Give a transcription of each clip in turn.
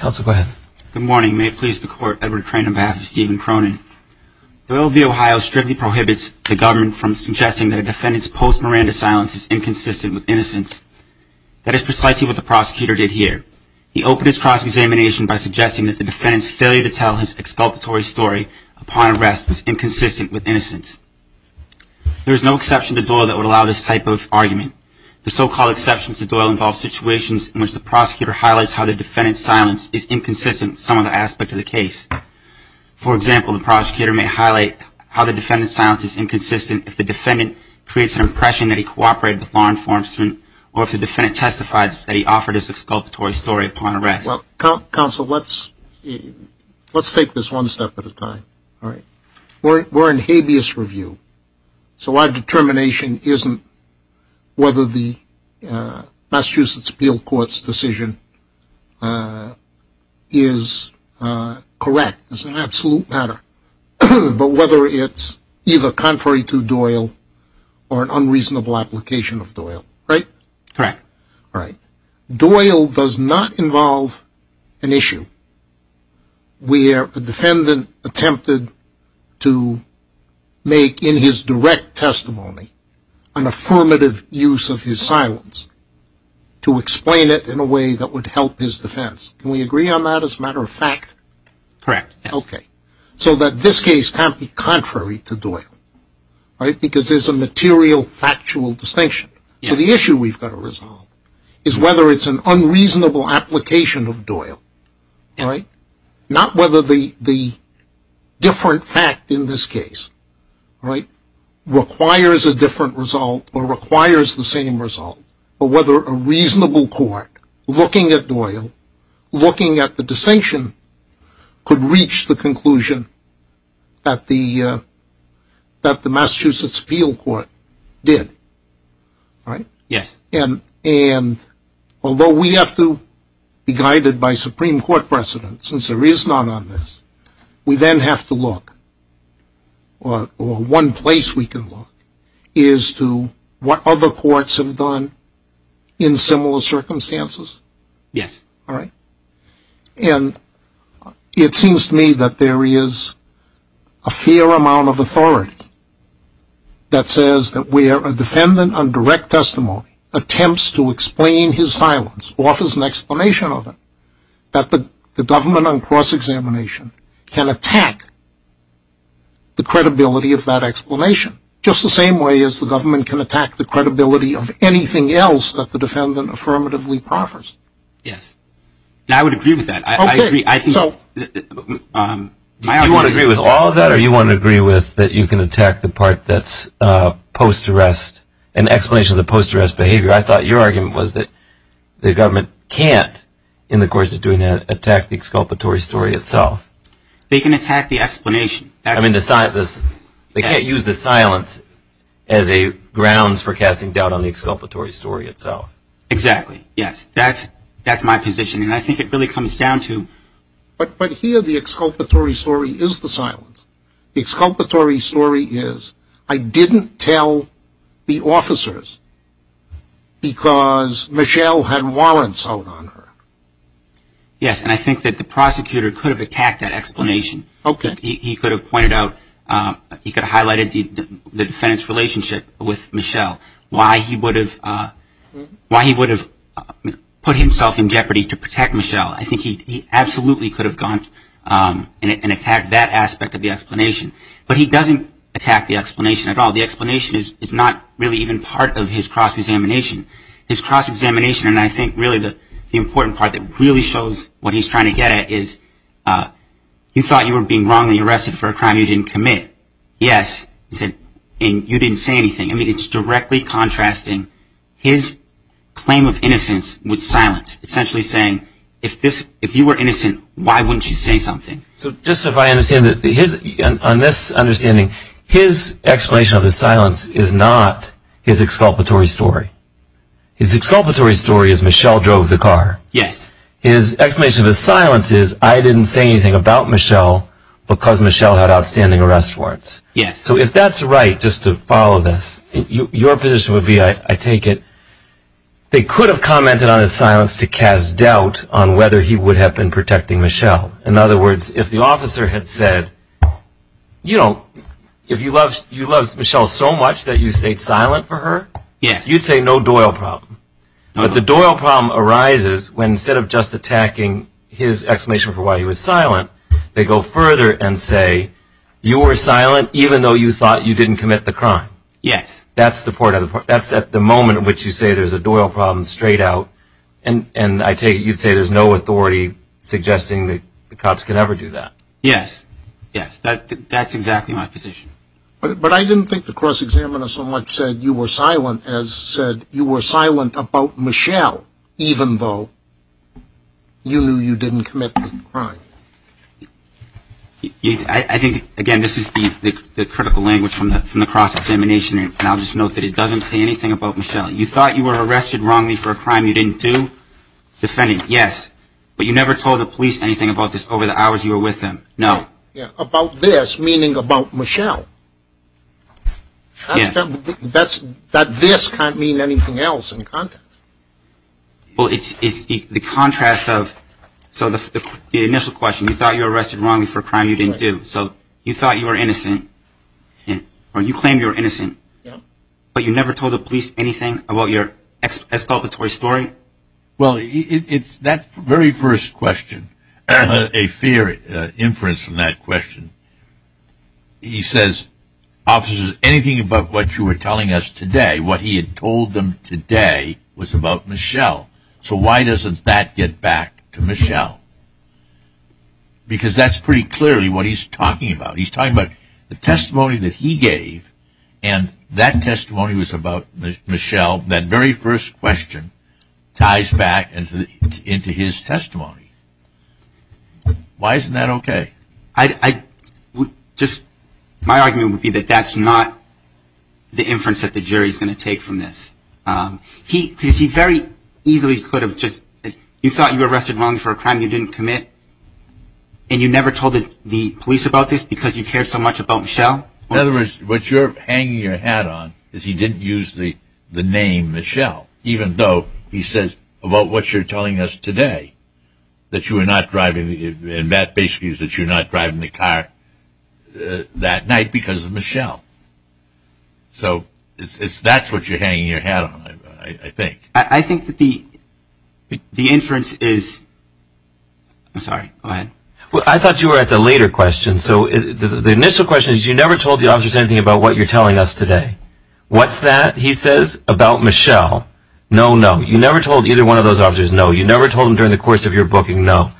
Good morning. May it please the court, Edward Crane on behalf of Stephen Cronin. Doyle v. Ohio strictly prohibits the government from suggesting that a defendant's post-Miranda silence is inconsistent with innocence. That is precisely what the prosecutor did here. He opened his cross-examination by suggesting that the defendant's failure to tell his exculpatory story upon arrest was inconsistent with innocence. There is no exception to Doyle that would allow this type of argument. The so-called exceptions to Doyle involve situations in which the prosecutor highlights how the defendant's silence is inconsistent with some other aspect of the case. For example, the prosecutor may highlight how the defendant's silence is inconsistent if the defendant creates an impression that he cooperated with law enforcement or if the defendant testifies that he offered his exculpatory story upon arrest. Counsel, let's take this one step at a time. We're in habeas review, so our determination isn't whether the Massachusetts Appeal Court's decision is correct. It's an absolute matter. But whether it's either contrary to Doyle or an unreasonable application of Doyle, right? Correct. Doyle does not involve an issue. Where the defendant attempted to make in his direct testimony an affirmative use of his silence to explain it in a way that would help his defense. Can we agree on that as a matter of fact? Correct. Okay. So that this case can't be contrary to Doyle, right? Because there's a material factual distinction. So the issue we've got to resolve is whether it's an unreasonable application of Doyle, right? Not whether the different fact in this case, right, requires a different result or requires the same result. Or whether a reasonable court, looking at Doyle, looking at the distinction, could reach the conclusion that the Massachusetts Appeal Court did, right? Yes. And although we have to be guided by Supreme Court precedent, since there is none on this, we then have to look, or one place we can look, is to what other courts have done in similar circumstances. Yes. All right? And it seems to me that there is a fair amount of authority that says that where a defendant on direct testimony attempts to explain his silence, offers an explanation of it, that the government on cross-examination can attack the credibility of that explanation, just the same way as the government can attack the credibility of anything else that the defendant affirmatively proffers. Yes. I would agree with that. Okay. I agree. Do you want to agree with all of that, or do you want to agree with that you can attack the part that's post-arrest, an explanation of the post-arrest behavior? I thought your argument was that the government can't, in the course of doing that, attack the exculpatory story itself. They can attack the explanation. I mean, they can't use the silence as a grounds for casting doubt on the exculpatory story itself. Exactly. Yes. That's my position, and I think it really comes down to. But here the exculpatory story is the silence. The exculpatory story is, I didn't tell the officers because Michelle had warrants out on her. Yes, and I think that the prosecutor could have attacked that explanation. Okay. I think he could have pointed out, he could have highlighted the defendant's relationship with Michelle, why he would have put himself in jeopardy to protect Michelle. I think he absolutely could have gone and attacked that aspect of the explanation. But he doesn't attack the explanation at all. The explanation is not really even part of his cross-examination. His cross-examination, and I think really the important part that really shows what he's trying to get at, is you thought you were being wrongly arrested for a crime you didn't commit. Yes, and you didn't say anything. I mean, it's directly contrasting his claim of innocence with silence. Essentially saying, if you were innocent, why wouldn't you say something? So just if I understand it, on this understanding, his explanation of the silence is not his exculpatory story. His exculpatory story is Michelle drove the car. Yes. His explanation of his silence is, I didn't say anything about Michelle because Michelle had outstanding arrest warrants. Yes. So if that's right, just to follow this, your position would be, I take it, they could have commented on his silence to cast doubt on whether he would have been protecting Michelle. In other words, if the officer had said, you know, if you love Michelle so much that you stayed silent for her, you'd say no Doyle problem. But the Doyle problem arises when instead of just attacking his explanation for why he was silent, they go further and say, you were silent even though you thought you didn't commit the crime. Yes. That's at the moment in which you say there's a Doyle problem straight out, and I take it you'd say there's no authority suggesting that the cops can ever do that. Yes. Yes, that's exactly my position. But I didn't think the cross-examiner so much said you were silent as said you were silent about Michelle even though you knew you didn't commit the crime. I think, again, this is the critical language from the cross-examination, and I'll just note that it doesn't say anything about Michelle. You thought you were arrested wrongly for a crime you didn't do? Defending, yes. But you never told the police anything about this over the hours you were with them? No. About this meaning about Michelle. Yes. That this can't mean anything else in context. Well, it's the contrast of the initial question, you thought you were arrested wrongly for a crime you didn't do, so you thought you were innocent, or you claimed you were innocent, but you never told the police anything about your exculpatory story? Well, that very first question, a fair inference from that question, he says, officers, anything about what you were telling us today, what he had told them today was about Michelle. So why doesn't that get back to Michelle? Because that's pretty clearly what he's talking about. He's talking about the testimony that he gave, and that testimony was about Michelle. That very first question ties back into his testimony. Why isn't that okay? My argument would be that that's not the inference that the jury is going to take from this. Because he very easily could have just said, you thought you were arrested wrongly for a crime you didn't commit, and you never told the police about this because you cared so much about Michelle? In other words, what you're hanging your hat on is he didn't use the name Michelle, even though he says, about what you're telling us today, that you were not driving, and that basically is that you're not driving the car that night because of Michelle. So that's what you're hanging your hat on, I think. I think that the inference is, I'm sorry, go ahead. Well, I thought you were at the later question. So the initial question is, you never told the officers anything about what you're telling us today. What's that, he says, about Michelle? No, no. You never told either one of those officers, no. You never told them during the course of your booking, no.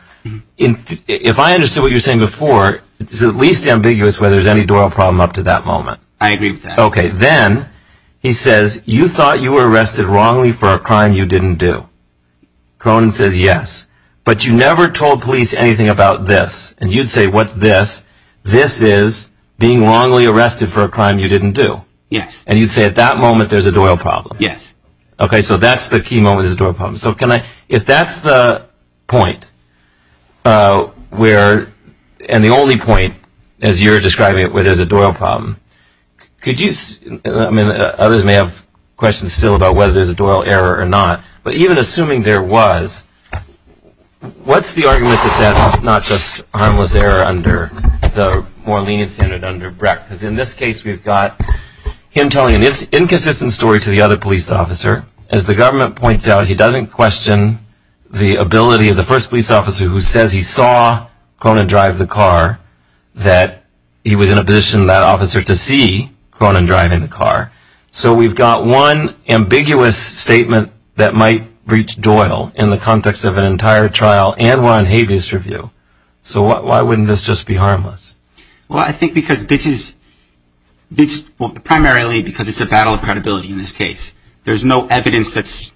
If I understood what you were saying before, it's at least ambiguous whether there's any Doyle problem up to that moment. I agree with that. Okay. Then he says, you thought you were arrested wrongly for a crime you didn't do. Cronin says, yes. But you never told police anything about this. And you'd say, what's this? This is being wrongly arrested for a crime you didn't do. Yes. And you'd say at that moment there's a Doyle problem. Yes. Okay. So that's the key moment is the Doyle problem. So if that's the point and the only point, as you're describing it, where there's a Doyle problem, others may have questions still about whether there's a Doyle error or not. But even assuming there was, what's the argument that that's not just harmless error under the more lenient standard under Breck? Because in this case, we've got him telling an inconsistent story to the other police officer. As the government points out, he doesn't question the ability of the first police officer who says he saw Cronin drive the car, that he was in a position, that officer, to see Cronin driving the car. So we've got one ambiguous statement that might reach Doyle in the context of an entire trial, and we're on habeas review. So why wouldn't this just be harmless? Well, I think because this is primarily because it's a battle of credibility in this case. There's no evidence that's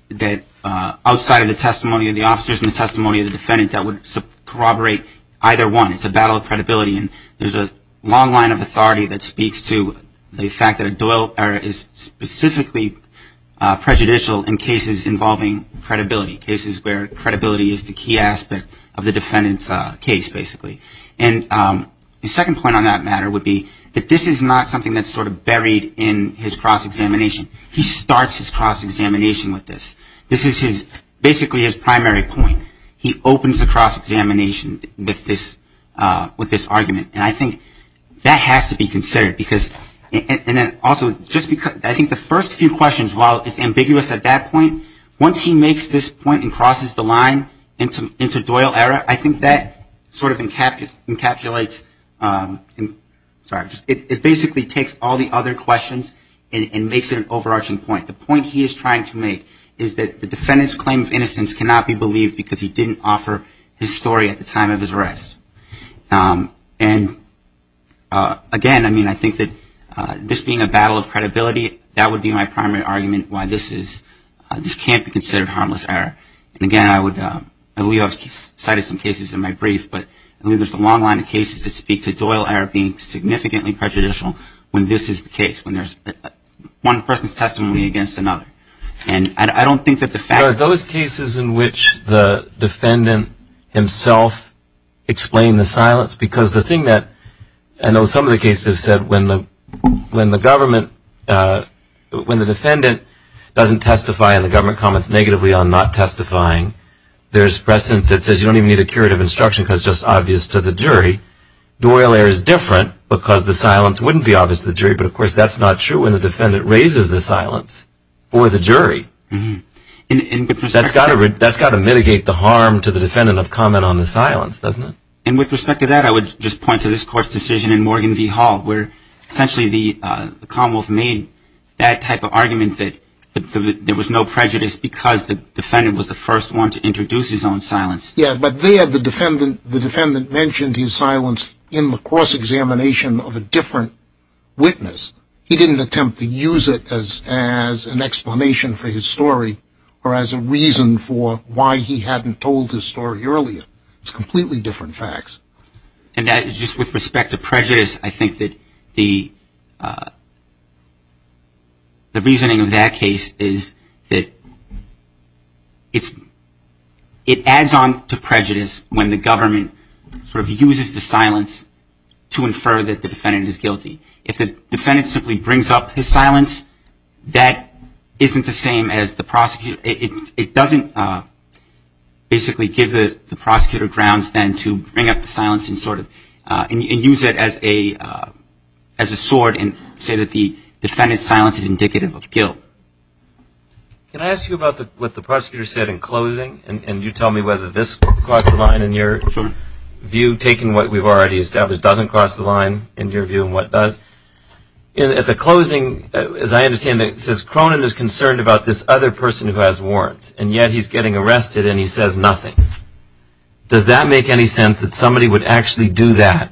outside of the testimony of the officers and the testimony of the defendant that would corroborate either one. It's a battle of credibility. And there's a long line of authority that speaks to the fact that a Doyle error is specifically prejudicial in cases involving credibility, cases where credibility is the key aspect of the defendant's case, basically. And the second point on that matter would be that this is not something that's sort of buried in his cross-examination. He starts his cross-examination with this. This is basically his primary point. He opens the cross-examination with this argument. And I think that has to be considered. And then also, I think the first few questions, while it's ambiguous at that point, once he makes this point and crosses the line into Doyle error, I think that sort of encapsulates, sorry, it basically takes all the other questions and makes it an overarching point. The point he is trying to make is that the defendant's claim of innocence cannot be believed because he didn't offer his story at the time of his arrest. And, again, I mean, I think that this being a battle of credibility, that would be my primary argument why this can't be considered harmless error. And, again, I would, I believe I've cited some cases in my brief, but I believe there's a long line of cases that speak to Doyle error being significantly prejudicial when this is the case, when there's one person's testimony against another. And I don't think that the fact of it. Are those cases in which the defendant himself explained the silence? Because the thing that I know some of the cases said when the government, when the defendant doesn't testify and the government comments negatively on not testifying, there's precedent that says you don't even need a curative instruction because it's just obvious to the jury. Doyle error is different because the silence wouldn't be obvious to the jury, but of course that's not true when the defendant raises the silence for the jury. And that's got to mitigate the harm to the defendant of comment on the silence, doesn't it? And with respect to that, I would just point to this court's decision in Morgan v. Hall, where essentially the Commonwealth made that type of argument that there was no prejudice because the defendant was the first one to introduce his own silence. Yeah, but there the defendant mentioned his silence in the cross-examination of a different witness. He didn't attempt to use it as an explanation for his story or as a reason for why he hadn't told his story earlier. It's completely different facts. And just with respect to prejudice, I think that the reasoning of that case is that it adds on to prejudice when the government sort of uses the silence to infer that the defendant is guilty. If the defendant simply brings up his silence, that isn't the same as the prosecutor. It doesn't basically give the prosecutor grounds then to bring up the silence and use it as a sword and say that the defendant's silence is indicative of guilt. Can I ask you about what the prosecutor said in closing? And you tell me whether this crossed the line in your view, taking what we've already established doesn't cross the line in your view and what does. At the closing, as I understand it, it says Cronin is concerned about this other person who has warrants, and yet he's getting arrested and he says nothing. Does that make any sense that somebody would actually do that,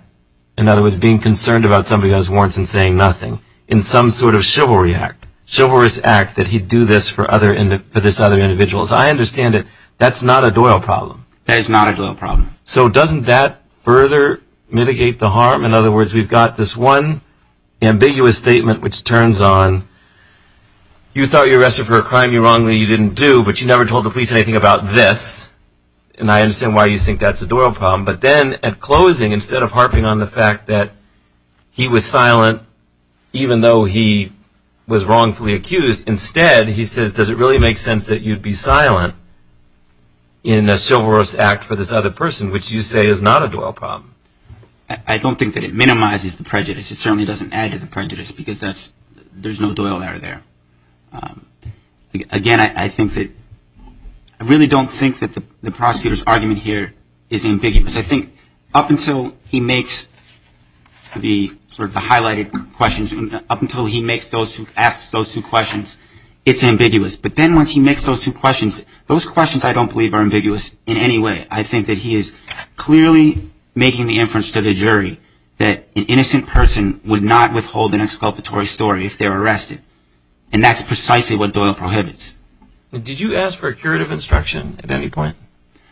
in other words being concerned about somebody who has warrants and saying nothing, in some sort of chivalry act, chivalrous act that he'd do this for this other individual? As I understand it, that's not a Doyle problem. That is not a Doyle problem. So doesn't that further mitigate the harm? In other words, we've got this one ambiguous statement which turns on, you thought you were arrested for a crime you wrongly didn't do, but you never told the police anything about this. And I understand why you think that's a Doyle problem. But then at closing, instead of harping on the fact that he was silent, even though he was wrongfully accused, instead he says, does it really make sense that you'd be silent in a chivalrous act for this other person, which you say is not a Doyle problem? I don't think that it minimizes the prejudice. It certainly doesn't add to the prejudice because there's no Doyle error there. Again, I really don't think that the prosecutor's argument here is ambiguous. I think up until he makes the highlighted questions, up until he asks those two questions, it's ambiguous. But then once he makes those two questions, those questions I don't believe are ambiguous in any way. I think that he is clearly making the inference to the jury that an innocent person would not withhold an exculpatory story if they were arrested, and that's precisely what Doyle prohibits. Did you ask for a curative instruction at any point?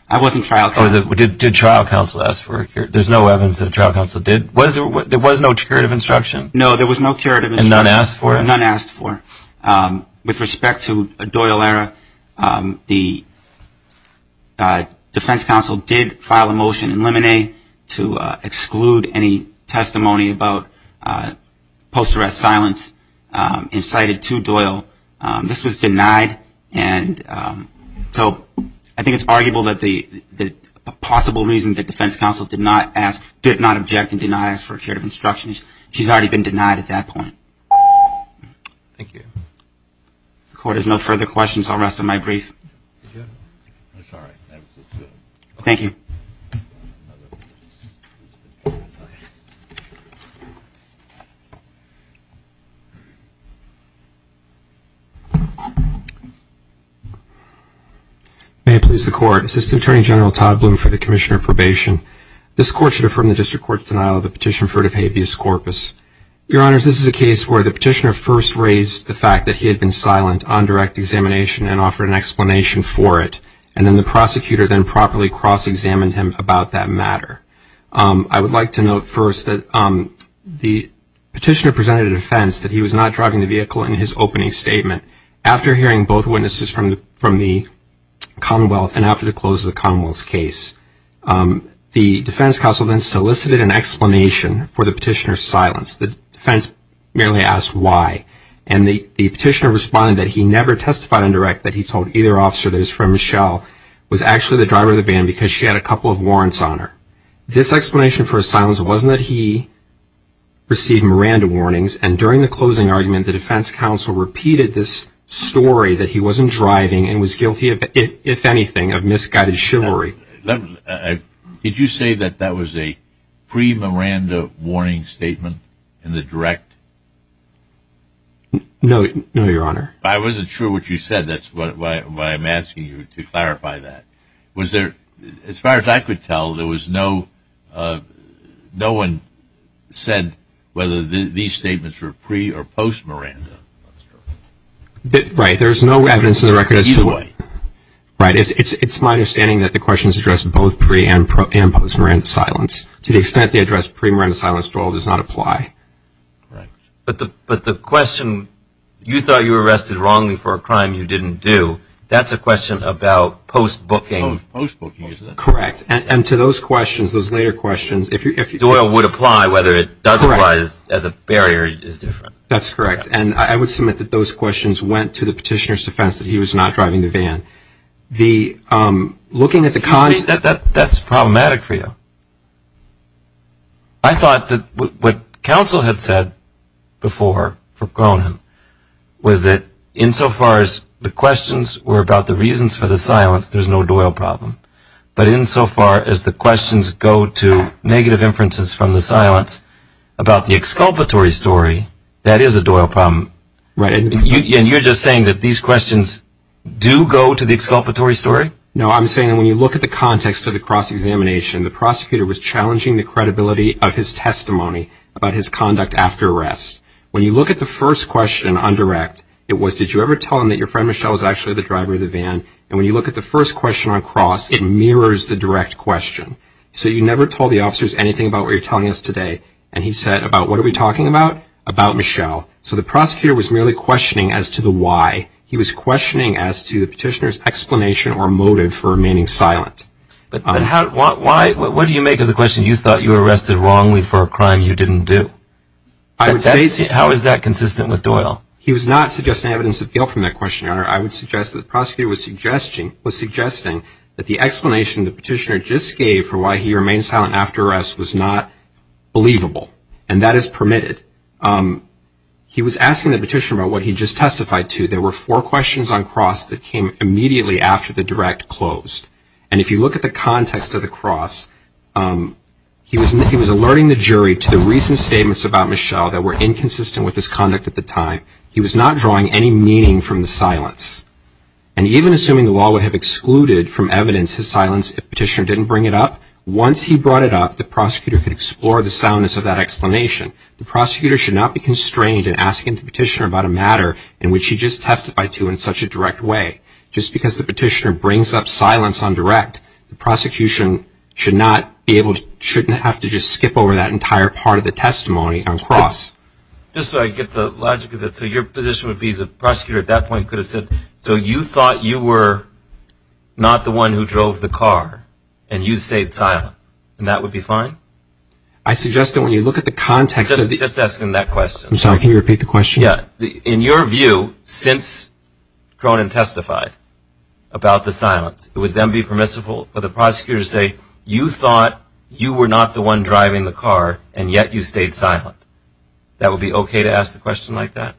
I wasn't trial counsel. Did trial counsel ask for a curative instruction? There's no evidence that trial counsel did. There was no curative instruction? No, there was no curative instruction. And none asked for it? None asked for it. With respect to Doyle error, the defense counsel did file a motion in Lemonade to exclude any testimony about post-arrest silence incited to Doyle. This was denied. And so I think it's arguable that the possible reason the defense counsel did not ask, did not object and did not ask for a curative instruction is she's already been denied at that point. Thank you. The Court has no further questions. I'll rest on my brief. Thank you. May it please the Court, Assistant Attorney General Todd Bloom for the Commissioner of Probation. This Court should affirm the District Court's denial of the petition for defhabius corpus. Your Honors, this is a case where the petitioner first raised the fact that he had been silent on direct examination and offered an explanation for it, and then the prosecutor then properly cross-examined him about that matter. I would like to note first that the petitioner presented a defense that he was not driving the vehicle in his opening statement after hearing both witnesses from the Commonwealth and after the close of the Commonwealth's case. The defense counsel then solicited an explanation for the petitioner's silence. The defense merely asked why. And the petitioner responded that he never testified on direct, that he told either officer that his friend Michelle was actually the driver of the van because she had a couple of warrants on her. This explanation for his silence wasn't that he received Miranda warnings, and during the closing argument the defense counsel repeated this story that he wasn't driving and was guilty, if anything, of misguided chivalry. Did you say that that was a pre-Miranda warning statement in the direct? No, Your Honor. I wasn't sure what you said. That's why I'm asking you to clarify that. As far as I could tell, no one said whether these statements were pre- or post-Miranda. Right. There's no evidence in the record. It's my understanding that the question is addressed both pre- and post-Miranda silence. To the extent they address pre-Miranda silence, Doyle does not apply. But the question, you thought you were arrested wrongly for a crime you didn't do, that's a question about post-booking. Post-booking, is it? Correct. And to those questions, those later questions. Doyle would apply whether it does or does not as a barrier is different. That's correct. And I would submit that those questions went to the petitioner's defense that he was not driving the van. That's problematic for you. I thought that what counsel had said before, for Cronin, was that insofar as the questions were about the reasons for the silence, there's no Doyle problem. But insofar as the questions go to negative inferences from the silence about the exculpatory story, that is a Doyle problem. Right. And you're just saying that these questions do go to the exculpatory story? No, I'm saying that when you look at the context of the cross-examination, the prosecutor was challenging the credibility of his testimony about his conduct after arrest. When you look at the first question on direct, it was, and when you look at the first question on cross, it mirrors the direct question. So you never told the officers anything about what you're telling us today. And he said about what are we talking about? About Michelle. So the prosecutor was merely questioning as to the why. He was questioning as to the petitioner's explanation or motive for remaining silent. But what do you make of the question, you thought you were arrested wrongly for a crime you didn't do? How is that consistent with Doyle? He was not suggesting evidence of guilt from that question, Your Honor. I would suggest that the prosecutor was suggesting that the explanation the petitioner just gave for why he remained silent after arrest was not believable, and that is permitted. He was asking the petitioner about what he just testified to. There were four questions on cross that came immediately after the direct closed. And if you look at the context of the cross, he was alerting the jury to the recent statements about Michelle that were inconsistent with his conduct at the time. He was not drawing any meaning from the silence. And even assuming the law would have excluded from evidence his silence if the petitioner didn't bring it up, once he brought it up, the prosecutor could explore the soundness of that explanation. The prosecutor should not be constrained in asking the petitioner about a matter in which he just testified to in such a direct way. Just because the petitioner brings up silence on direct, the prosecution should not have to just skip over that entire part of the testimony on cross. Just so I get the logic of it, so your position would be the prosecutor at that point could have said, so you thought you were not the one who drove the car, and you stayed silent, and that would be fine? I suggest that when you look at the context of the question. Just ask him that question. I'm sorry, can you repeat the question? Yeah. In your view, since Cronin testified about the silence, it would then be permissible for the prosecutor to say you thought you were not the one driving the car, and yet you stayed silent. That would be okay to ask a question like that?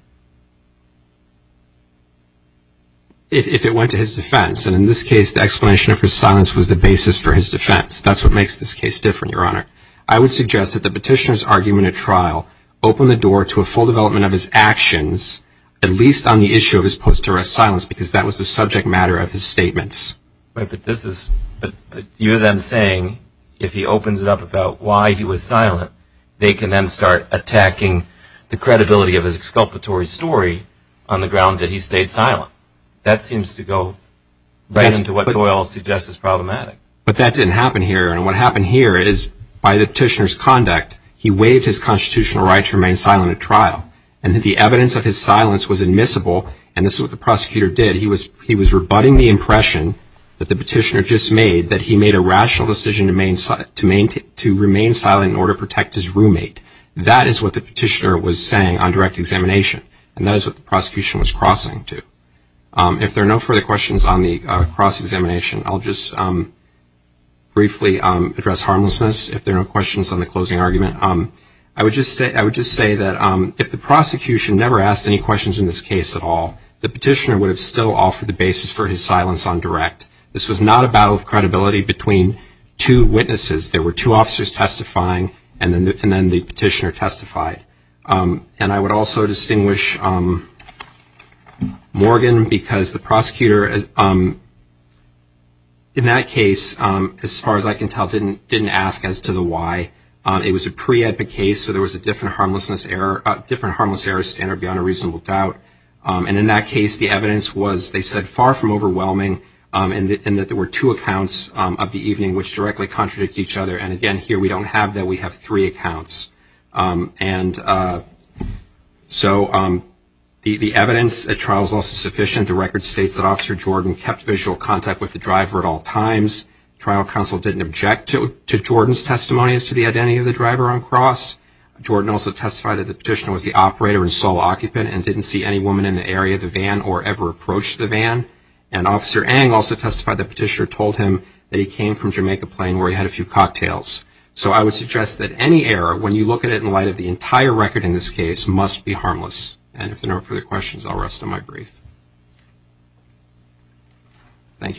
If it went to his defense, and in this case the explanation of his silence was the basis for his defense, that's what makes this case different, Your Honor. I would suggest that the petitioner's argument at trial open the door to a full development of his actions, at least on the issue of his post-arrest silence, because that was the subject matter of his statements. But you're then saying if he opens it up about why he was silent, they can then start attacking the credibility of his exculpatory story on the grounds that he stayed silent. That seems to go right into what Doyle suggests is problematic. But that didn't happen here, and what happened here is by the petitioner's conduct, he waived his constitutional right to remain silent at trial, and the evidence of his silence was admissible, and this is what the prosecutor did. He was rebutting the impression that the petitioner just made that he made a rational decision to remain silent in order to protect his roommate. That is what the petitioner was saying on direct examination, and that is what the prosecution was crossing to. If there are no further questions on the cross-examination, I'll just briefly address harmlessness. If there are no questions on the closing argument, I would just say that if the prosecution never asked any questions in this case at all, the petitioner would have still offered the basis for his silence on direct. This was not a battle of credibility between two witnesses. There were two officers testifying, and then the petitioner testified. And I would also distinguish Morgan because the prosecutor in that case, as far as I can tell, didn't ask as to the why. It was a pre-epic case, so there was a different harmlessness error standard beyond a reasonable doubt. And in that case, the evidence was, they said, far from overwhelming in that there were two accounts of the evening which directly contradict each other. And again, here we don't have that. We have three accounts. And so the evidence at trial is also sufficient. The record states that Officer Jordan kept visual contact with the driver at all times. Trial counsel didn't object to Jordan's testimony as to the identity of the driver on cross. Jordan also testified that the petitioner was the operator and sole occupant and didn't see any woman in the area of the van or ever approach the van. And Officer Eng also testified the petitioner told him that he came from Jamaica Plain where he had a few cocktails. So I would suggest that any error, when you look at it in light of the entire record in this case, must be harmless. And if there are no further questions, I'll rest on my brief. Thank you.